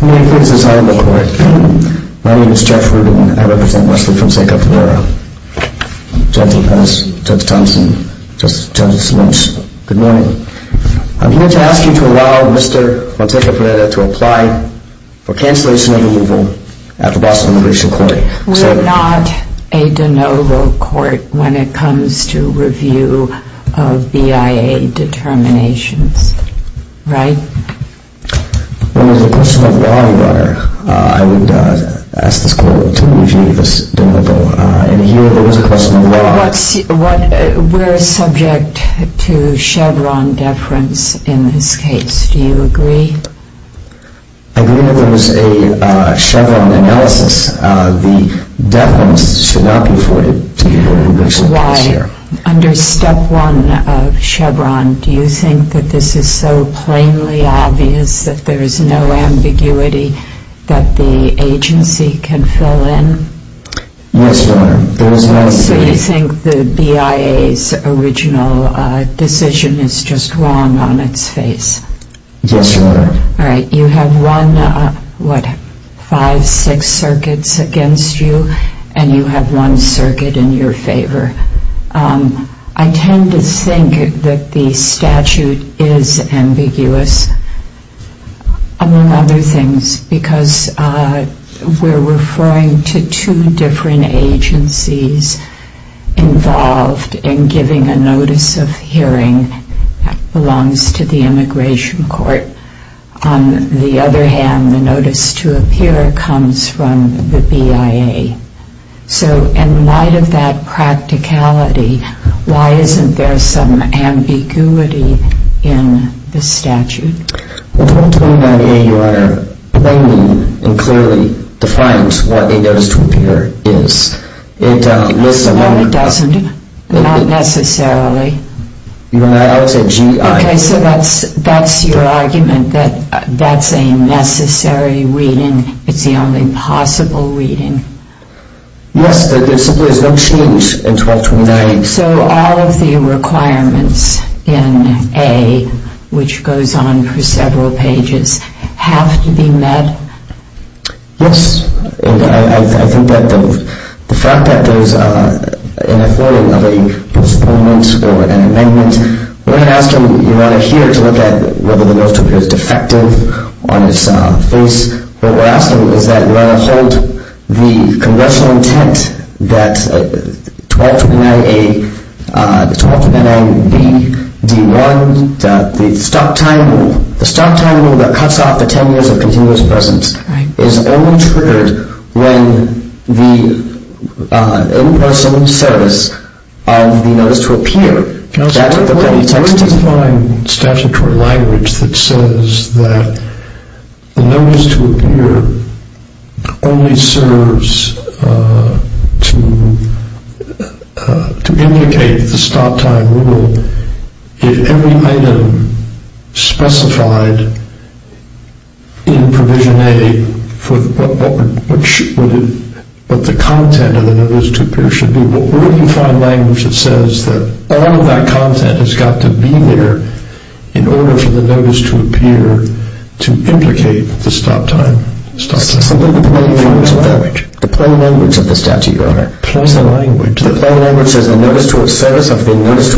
We are not a de novo court when it comes to review of BIA determinations, right? We are subject to Chevron deference in this case. Do you agree? I agree that there was a Chevron analysis. The deference should not be afforded to the individual case here. Under step 1 of Chevron, do you think that this is so plainly obvious that there is no ambiguity that the agency can fill in? Yes, Your Honor. So you think that BIA's original decision is just wrong on its face? Yes, Your Honor. All right. You have one, what, five, six circuits against you and you have one circuit in your favor. I tend to think that the statute is ambiguous, among other things, because we're referring to two different agencies involved in giving a notice of hearing that belongs to the immigration court. On the other hand, the notice to appear comes from the BIA. So in light of that practicality, why isn't there some ambiguity in the statute? Well, 1299A, Your Honor, plainly and clearly defines what a notice to appear is. No, it doesn't. Not necessarily. I always say GI. Okay, so that's your argument, that that's a necessary reading. It's the only possible reading. Yes, there simply is no change in 1229A. So all of the requirements in A, which goes on for several pages, have to be met? Yes. I think that the fact that there's an affording of a postponement or an amendment, we're not asking Your Honor here to look at whether the notice to appear is defective on its face. What we're asking is that Your Honor, hold the congressional intent that 1229A, 1229B, D1, the stop time rule, the stop time rule that cuts off the 10 years of continuous presence, is only triggered when the in-person service of the notice to appear, that's what the court has texted. Well, where do you find statutory language that says that the notice to appear only serves to implicate the stop time rule if every item specified in Provision A for what the content of the notice to appear should be? Where do you find language that says that all of that content has got to be there in order for the notice to appear to implicate the stop time? The plain language of the statute, Your Honor. So you're saying a notice to appear is only a notice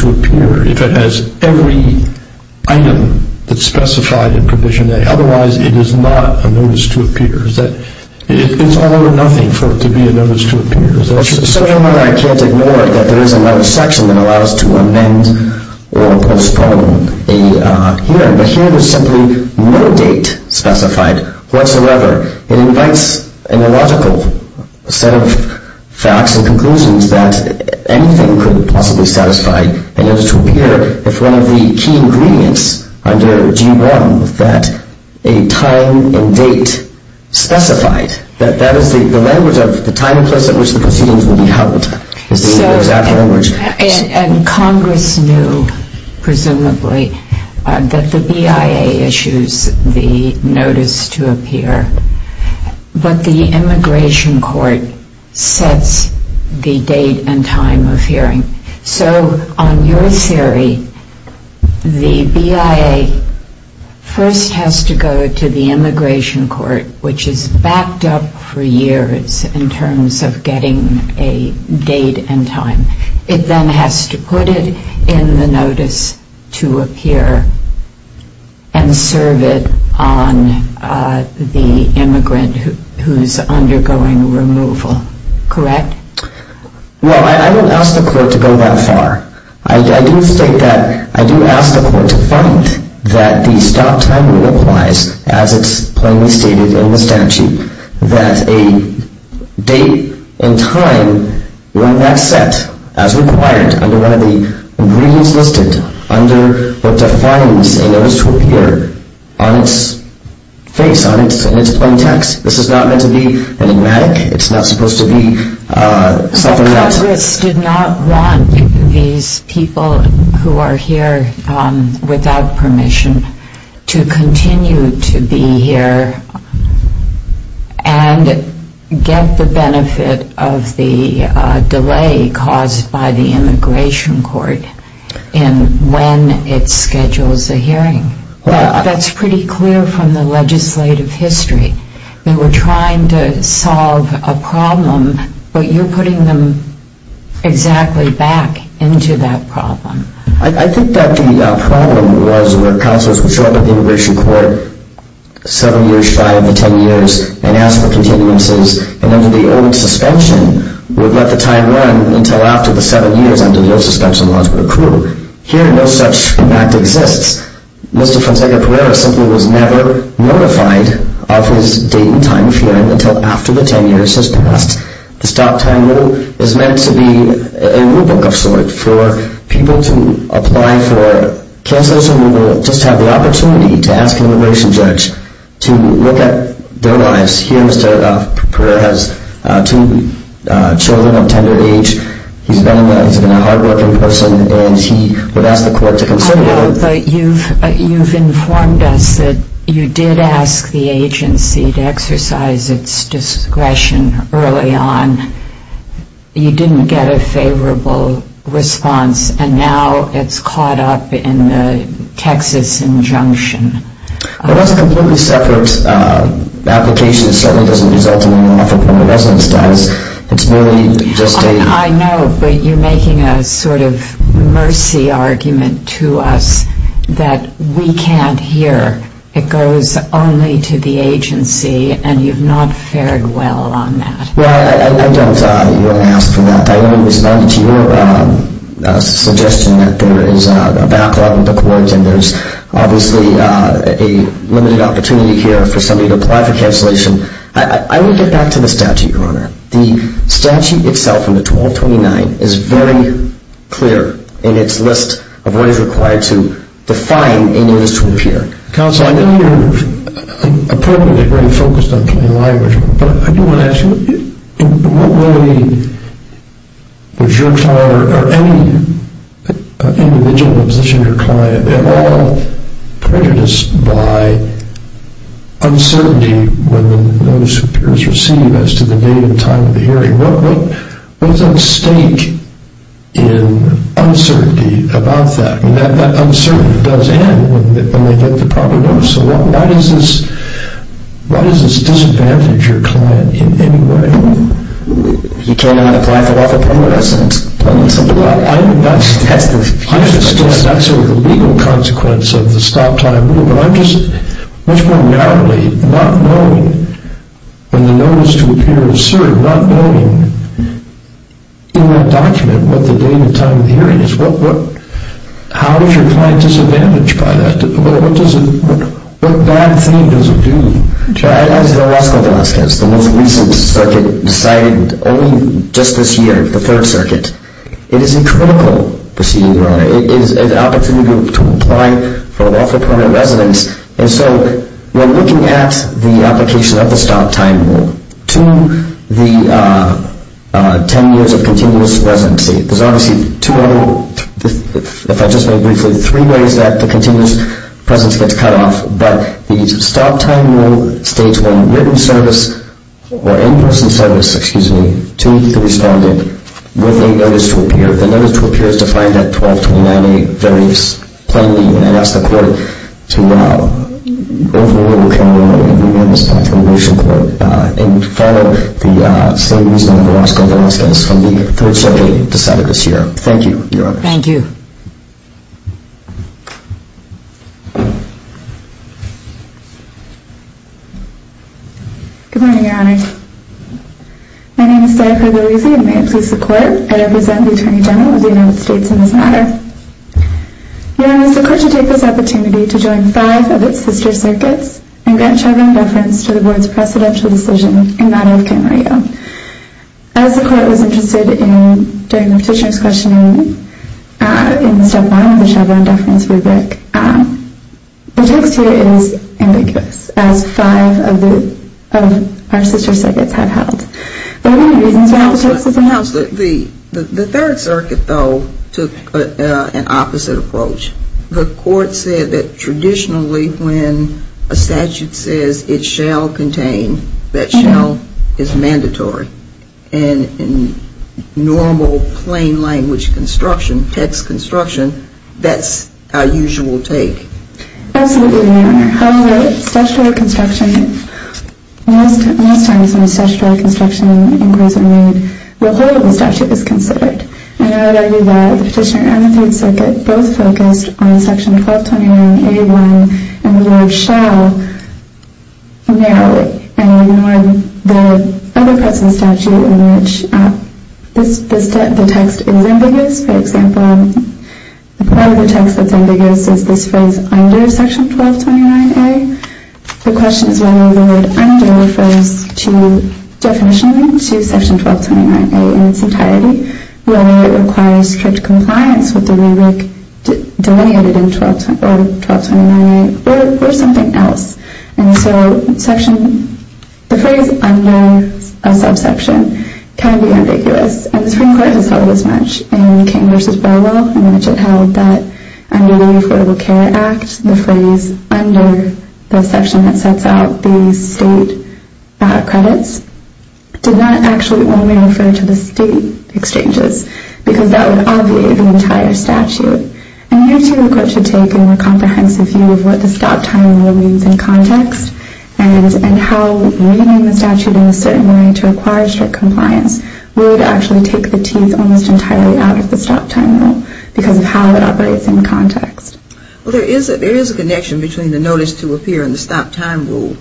to appear if it has every item that's specified in Provision A. Otherwise, it is not a notice to appear. It's all or nothing for it to be a notice to appear. So Your Honor, I can't ignore that there is another section that allows to amend or postpone a hearing, but here there's simply no date specified whatsoever. It invites an illogical set of facts and conclusions that anything could possibly satisfy a notice to appear if one of the key ingredients under G1 that a time and date specified, that that is the language of the time and place at which the proceedings will be held. Congress knew, presumably, that the BIA issues the notice to appear, but the Immigration Court sets the date and time of hearing. So on your theory, the BIA first has to go to the Immigration Court, which is backed up for years in terms of getting a date and time. It then has to put it in the notice to appear and serve it on the immigrant who's undergoing removal. Correct? Well, I don't ask the Court to go that far. I do state that I do ask the Court to find that the stop time rule applies, as it's plainly stated in the statute, that a date and time when that's set as required under one of the ingredients listed under what defines a notice to appear on its face, on its plain text. This is not meant to be enigmatic. It's not supposed to be something else. Congress did not want these people who are here without permission to continue to be here and get the benefit of the delay caused by the Immigration Court in when it schedules a hearing. That's pretty clear from the legislative history. They were trying to solve a problem, but you're putting them exactly back into that problem. I think that the problem was where counsels would show up at the Immigration Court seven years shy of the 10 years and ask for continuances, and under the old suspension, would let the time run until after the seven years under the old suspension laws were approved. Here, no such fact exists. Mr. Fonseca Pereira simply was never notified of his date and time hearing until after the 10 years has passed. The stop time rule is meant to be a rulebook of sorts for people to apply for counsels who will just have the opportunity to ask an immigration judge to look at their lives. Here, Mr. Pereira has two children of tender age. He's been a hard-working person, and he would ask the Court to consider that. But you've informed us that you did ask the agency to exercise its discretion early on. You didn't get a favorable response, and now it's caught up in the Texas injunction. Well, that's a completely separate application. It certainly doesn't result in an offer from a resident status. It's merely just a... I know, but you're making a sort of mercy argument to us that we can't hear. It goes only to the agency, and you've not fared well on that. Well, I don't... you don't ask for that. I only responded to your suggestion that there is a backlog in the Court, and there's obviously a limited opportunity here for somebody to apply for cancellation. I would get back to the statute, Your Honor. The statute itself, in the 1229, is very clear in its list of what is required to define a new instrument of hearing. Counsel, I know you're appropriately very focused on plain language, but I do want to ask you, in what way does your client or any individual position your client at all prejudice by uncertainty when those peers receive as to the date and time of the hearing? What's at stake in uncertainty about that? I mean, that uncertainty does end when they get the proper notice, so why does this disadvantage your client in any way? You turn down the client for lawful progress? That's the legal consequence of the stop-time rule, but I'm just much more narrowly not knowing when the notice to appear is served, not knowing in that document what the date and time of the hearing is. How is your client disadvantaged by that? What bad thing does it do? As the law school of Alaska, it's the most recent circuit, decided only just this year, the third circuit. It is a critical proceeding, Your Honor. It is an opportunity to apply for lawful permanent residence, and so we're looking at the application of the stop-time rule to the 10 years of continuous residency. There's obviously two other, if I just may briefly, three ways that the continuous presence gets cut off, but the stop-time rule states when written service or in-person service, excuse me, to the respondent with a notice to appear. The notice to appear is defined at 1229A very plainly, and I ask the court to overrule the continuous presence of the motion court and follow the same reason that the law school of Alaska has from the third circuit decided this year. Thank you, Your Honor. Thank you. Good morning, Your Honor. My name is Jennifer Boise, and may it please the court, I represent the Attorney General of the United States in this matter. Your Honor, it is the court to take this opportunity to join five of its sister circuits and grant Chevron deference to the board's precedential decision in the matter of Camarillo. As the court was interested in during the petitioner's questioning in step one of the Chevron deference rubric, the text here is ambiguous, as five of our sister circuits have held. The third circuit, though, took an opposite approach. The court said that traditionally when a statute says it shall contain, that shall is mandatory, and in normal plain language construction, text construction, that's our usual take. Absolutely, Your Honor. However, statutory construction, most times when a statutory construction inquiry is made, the whole of the statute is considered. And I would argue that the petitioner and the third circuit both focused on section 1229A1 and the word shall narrowly and ignored the other parts of the statute in which the text is ambiguous. For example, part of the text that's ambiguous is this phrase under section 1229A. The question is whether the word under refers to definition to section 1229A in its entirety, whether it requires strict compliance with the rubric delineated in 1229A or something else. And so the phrase under a subsection can be ambiguous. And the Supreme Court has held as much in King v. Burwell in which it held that under the Affordable Care Act, the phrase under the section that sets out the state credits did not actually only refer to the state exchanges because that would obviate the entire statute. And here, too, the court should take a more comprehensive view of what the stop time rule means in context and how reading the statute in a certain way to require strict compliance would actually take the teeth almost entirely out of the stop time rule because of how it operates in context. Well, there is a connection between the notice to appear and the stop time rule.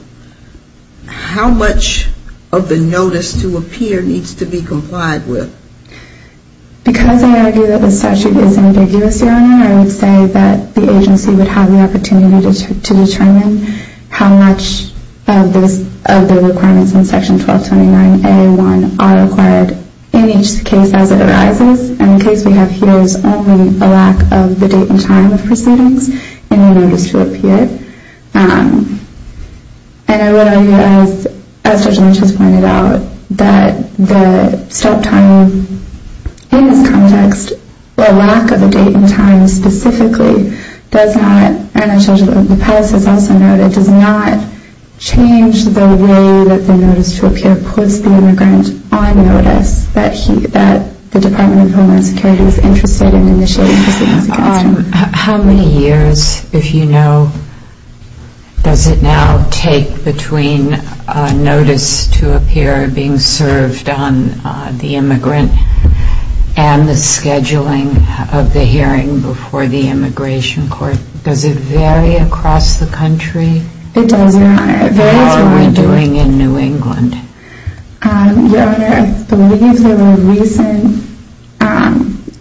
How much of the notice to appear needs to be complied with? Because I argue that the statute is ambiguous, Your Honor, I would say that the agency would have the opportunity to determine how much of the requirements in section 1229A1 are required in each case as it arises. And the case we have here is only a lack of the date and time of proceedings in the notice to appear. And I would argue, as Judge Lynch has pointed out, that the stop time in this context, the lack of a date and time specifically, does not, and Judge Lopez has also noted, does not change the way that the notice to appear puts the immigrant on notice that the Department of Homeland Security is interested in initiating proceedings against him. How many years, if you know, does it now take between a notice to appear being served on the immigrant and the scheduling of the hearing before the immigration court? Does it vary across the country? It does, Your Honor. How are we doing in New England? Your Honor, I believe there were recent,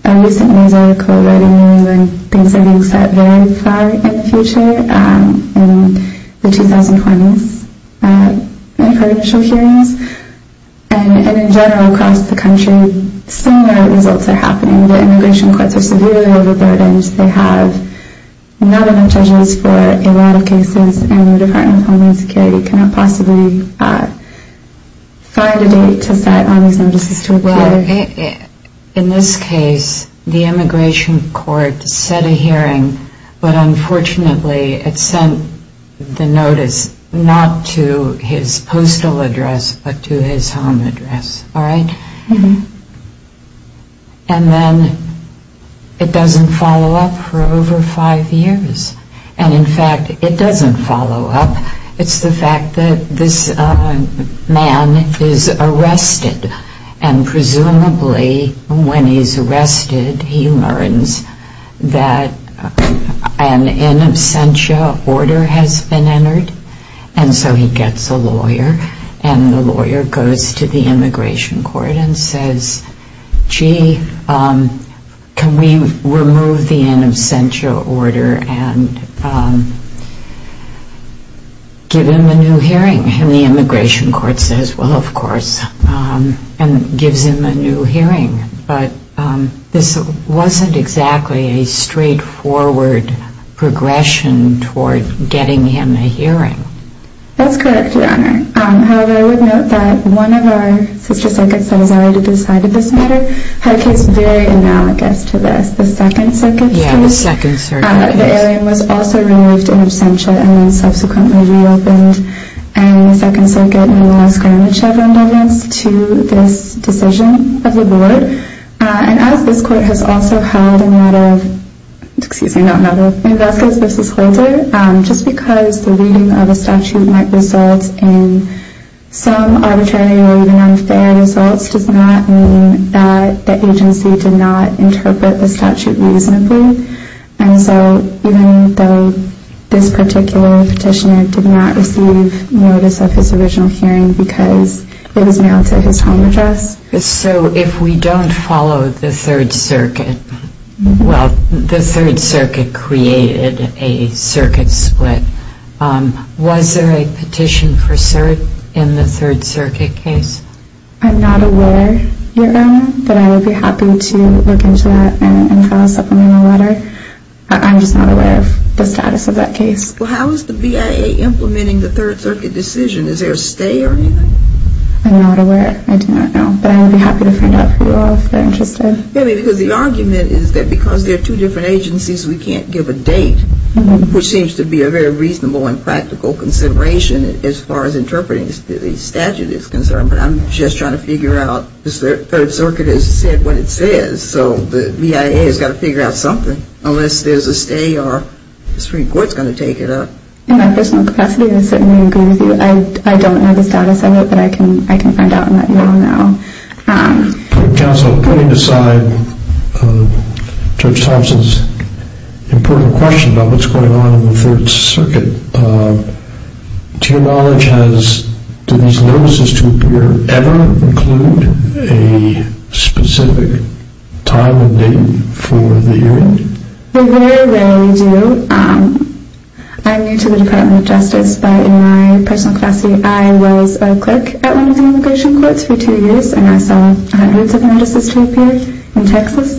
a recent news article in New England, things are being set very far in the future, in the 2020s, in pre-judicial hearings. And in general across the country, similar results are happening. The immigration courts are severely overburdened. They have not enough judges for a lot of cases, and the Department of Homeland Security cannot possibly find a date to set on these notices to appear. Well, in this case, the immigration court set a hearing, but unfortunately it sent the notice not to his postal address, but to his home address. All right? Mm-hmm. And then it doesn't follow up for over five years. And in fact, it doesn't follow up. It's the fact that this man is arrested, and presumably when he's arrested, he learns that an in absentia order has been entered. And so he gets a lawyer, and the lawyer goes to the immigration court and says, gee, can we remove the in absentia order and give him a new hearing? And the immigration court says, well, of course, and gives him a new hearing. But this wasn't exactly a straightforward progression toward getting him a hearing. That's correct, Your Honor. However, I would note that one of our sister circuits that has already decided this matter had a case very analogous to this. The Second Circuit case. Yeah, the Second Circuit case. The hearing was also removed in absentia and then subsequently reopened. And the Second Circuit no longer has grammage of redundance to this decision of the board. And as this court has also held a matter of – excuse me, not a matter of – in Vasquez v. Holder, just because the reading of a statute might result in some arbitrary or even unfair results does not mean that the agency did not interpret the statute reasonably. And so even though this particular petitioner did not receive notice of his original hearing because it was mailed to his home address. So if we don't follow the Third Circuit – well, the Third Circuit created a circuit split. Was there a petition for cert in the Third Circuit case? I'm not aware, Your Honor, but I would be happy to look into that and file a supplemental letter. I'm just not aware of the status of that case. Well, how is the BIA implementing the Third Circuit decision? Is there a stay or anything? I'm not aware. I do not know. But I would be happy to find out for you all if you're interested. I mean, because the argument is that because there are two different agencies, we can't give a date, which seems to be a very reasonable and practical consideration as far as interpreting the statute is concerned. But I'm just trying to figure out – the Third Circuit has said what it says. So the BIA has got to figure out something unless there's a stay or the Supreme Court is going to take it up. In my personal capacity, I certainly agree with you. I don't know the status of it, but I can find out in that email now. Counsel, putting aside Judge Thompson's important question about what's going on in the Third Circuit, to your knowledge, do these notices appear to ever include a specific time and date for the hearing? They very rarely do. I'm new to the Department of Justice, but in my personal capacity, I was a clerk at one of the immigration courts for two years, and I saw hundreds of notices to appear in Texas,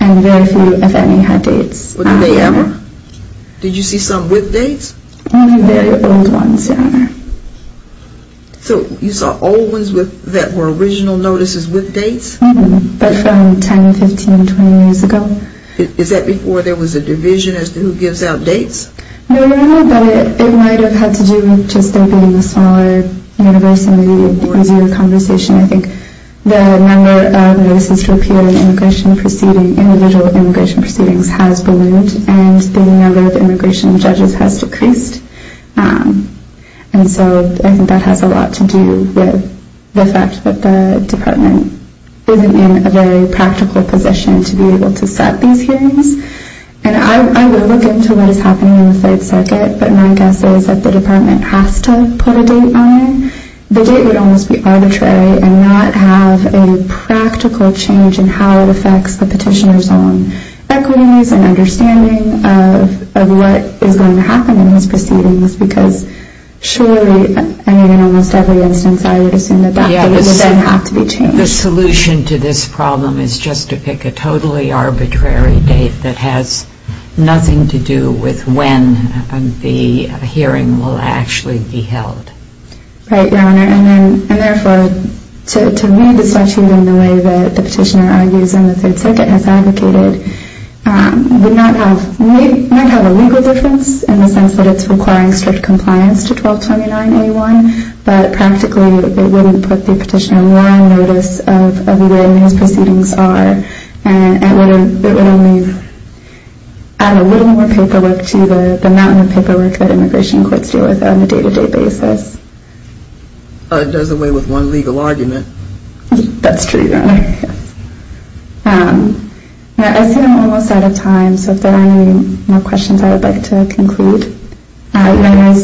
and very few, if any, had dates. What did they ever? Did you see some with dates? Only very old ones, Your Honor. So you saw old ones that were original notices with dates? Mm-hmm, but from 10, 15, 20 years ago. No, Your Honor, but it might have had to do with just there being a smaller universe and maybe a noisier conversation. I think the number of notices to appear in immigration proceedings, individual immigration proceedings, has ballooned, and the number of immigration judges has decreased. And so I think that has a lot to do with the fact that the Department isn't in a very practical position to be able to set these hearings. And I would look into what is happening in the Third Circuit, but my guess is that the Department has to put a date on it. The date would almost be arbitrary and not have a practical change in how it affects the petitioner's own equities and understanding of what is going to happen in these proceedings, because surely, I mean, in almost every instance, I would assume that that date would then have to be changed. The solution to this problem is just to pick a totally arbitrary date that has nothing to do with when the hearing will actually be held. Right, Your Honor. And therefore, to me, the statute in the way that the petitioner argues in the Third Circuit has advocated would not have a legal difference in the sense that it's requiring strict compliance to 1229A1, but practically, it wouldn't put the petitioner more on notice of where these proceedings are and it would only add a little more paperwork to the mountain of paperwork that immigration courts deal with on a day-to-day basis. It does away with one legal argument. That's true, Your Honor. I see that I'm almost out of time, so if there are any more questions, I would like to conclude. Your Honor,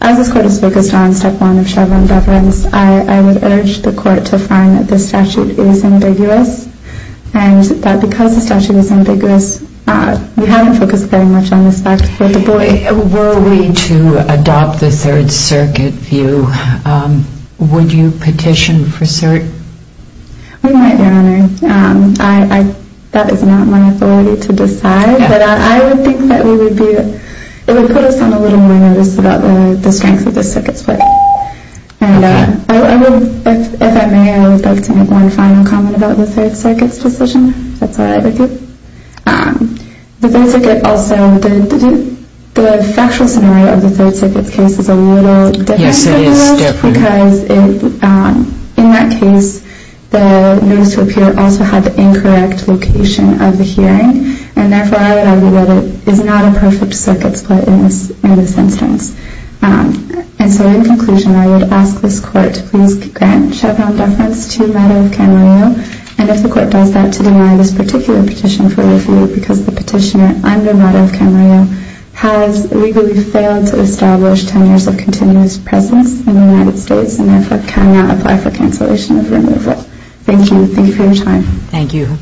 as this Court is focused on Step 1 of Chevron deference, I would urge the Court to find that this statute is ambiguous and that because the statute is ambiguous, we haven't focused very much on this fact with the boy. Were we to adopt the Third Circuit view, would you petition for certain? We might, Your Honor. That is not my authority to decide, but I would think that it would put us on a little more notice about the strength of the Circuit's view. If I may, I would like to make one final comment about the Third Circuit's decision. If that's all right with you. The Third Circuit also did the factual scenario of the Third Circuit's case is a little different from the rest. Yes, it is, definitely. Because in that case, the notice to appear also had the incorrect location of the hearing, and therefore, I would argue that it is not a perfect Circuit split in this instance. And so in conclusion, I would ask this Court to please grant Chevron deference to a matter of Camarillo, and if the Court does that, to deny this particular petition for review because the petitioner under a matter of Camarillo has legally failed to establish 10 years of continuous presence in the United States and therefore cannot apply for cancellation of removal. Thank you. Thank you for your time. Thank you.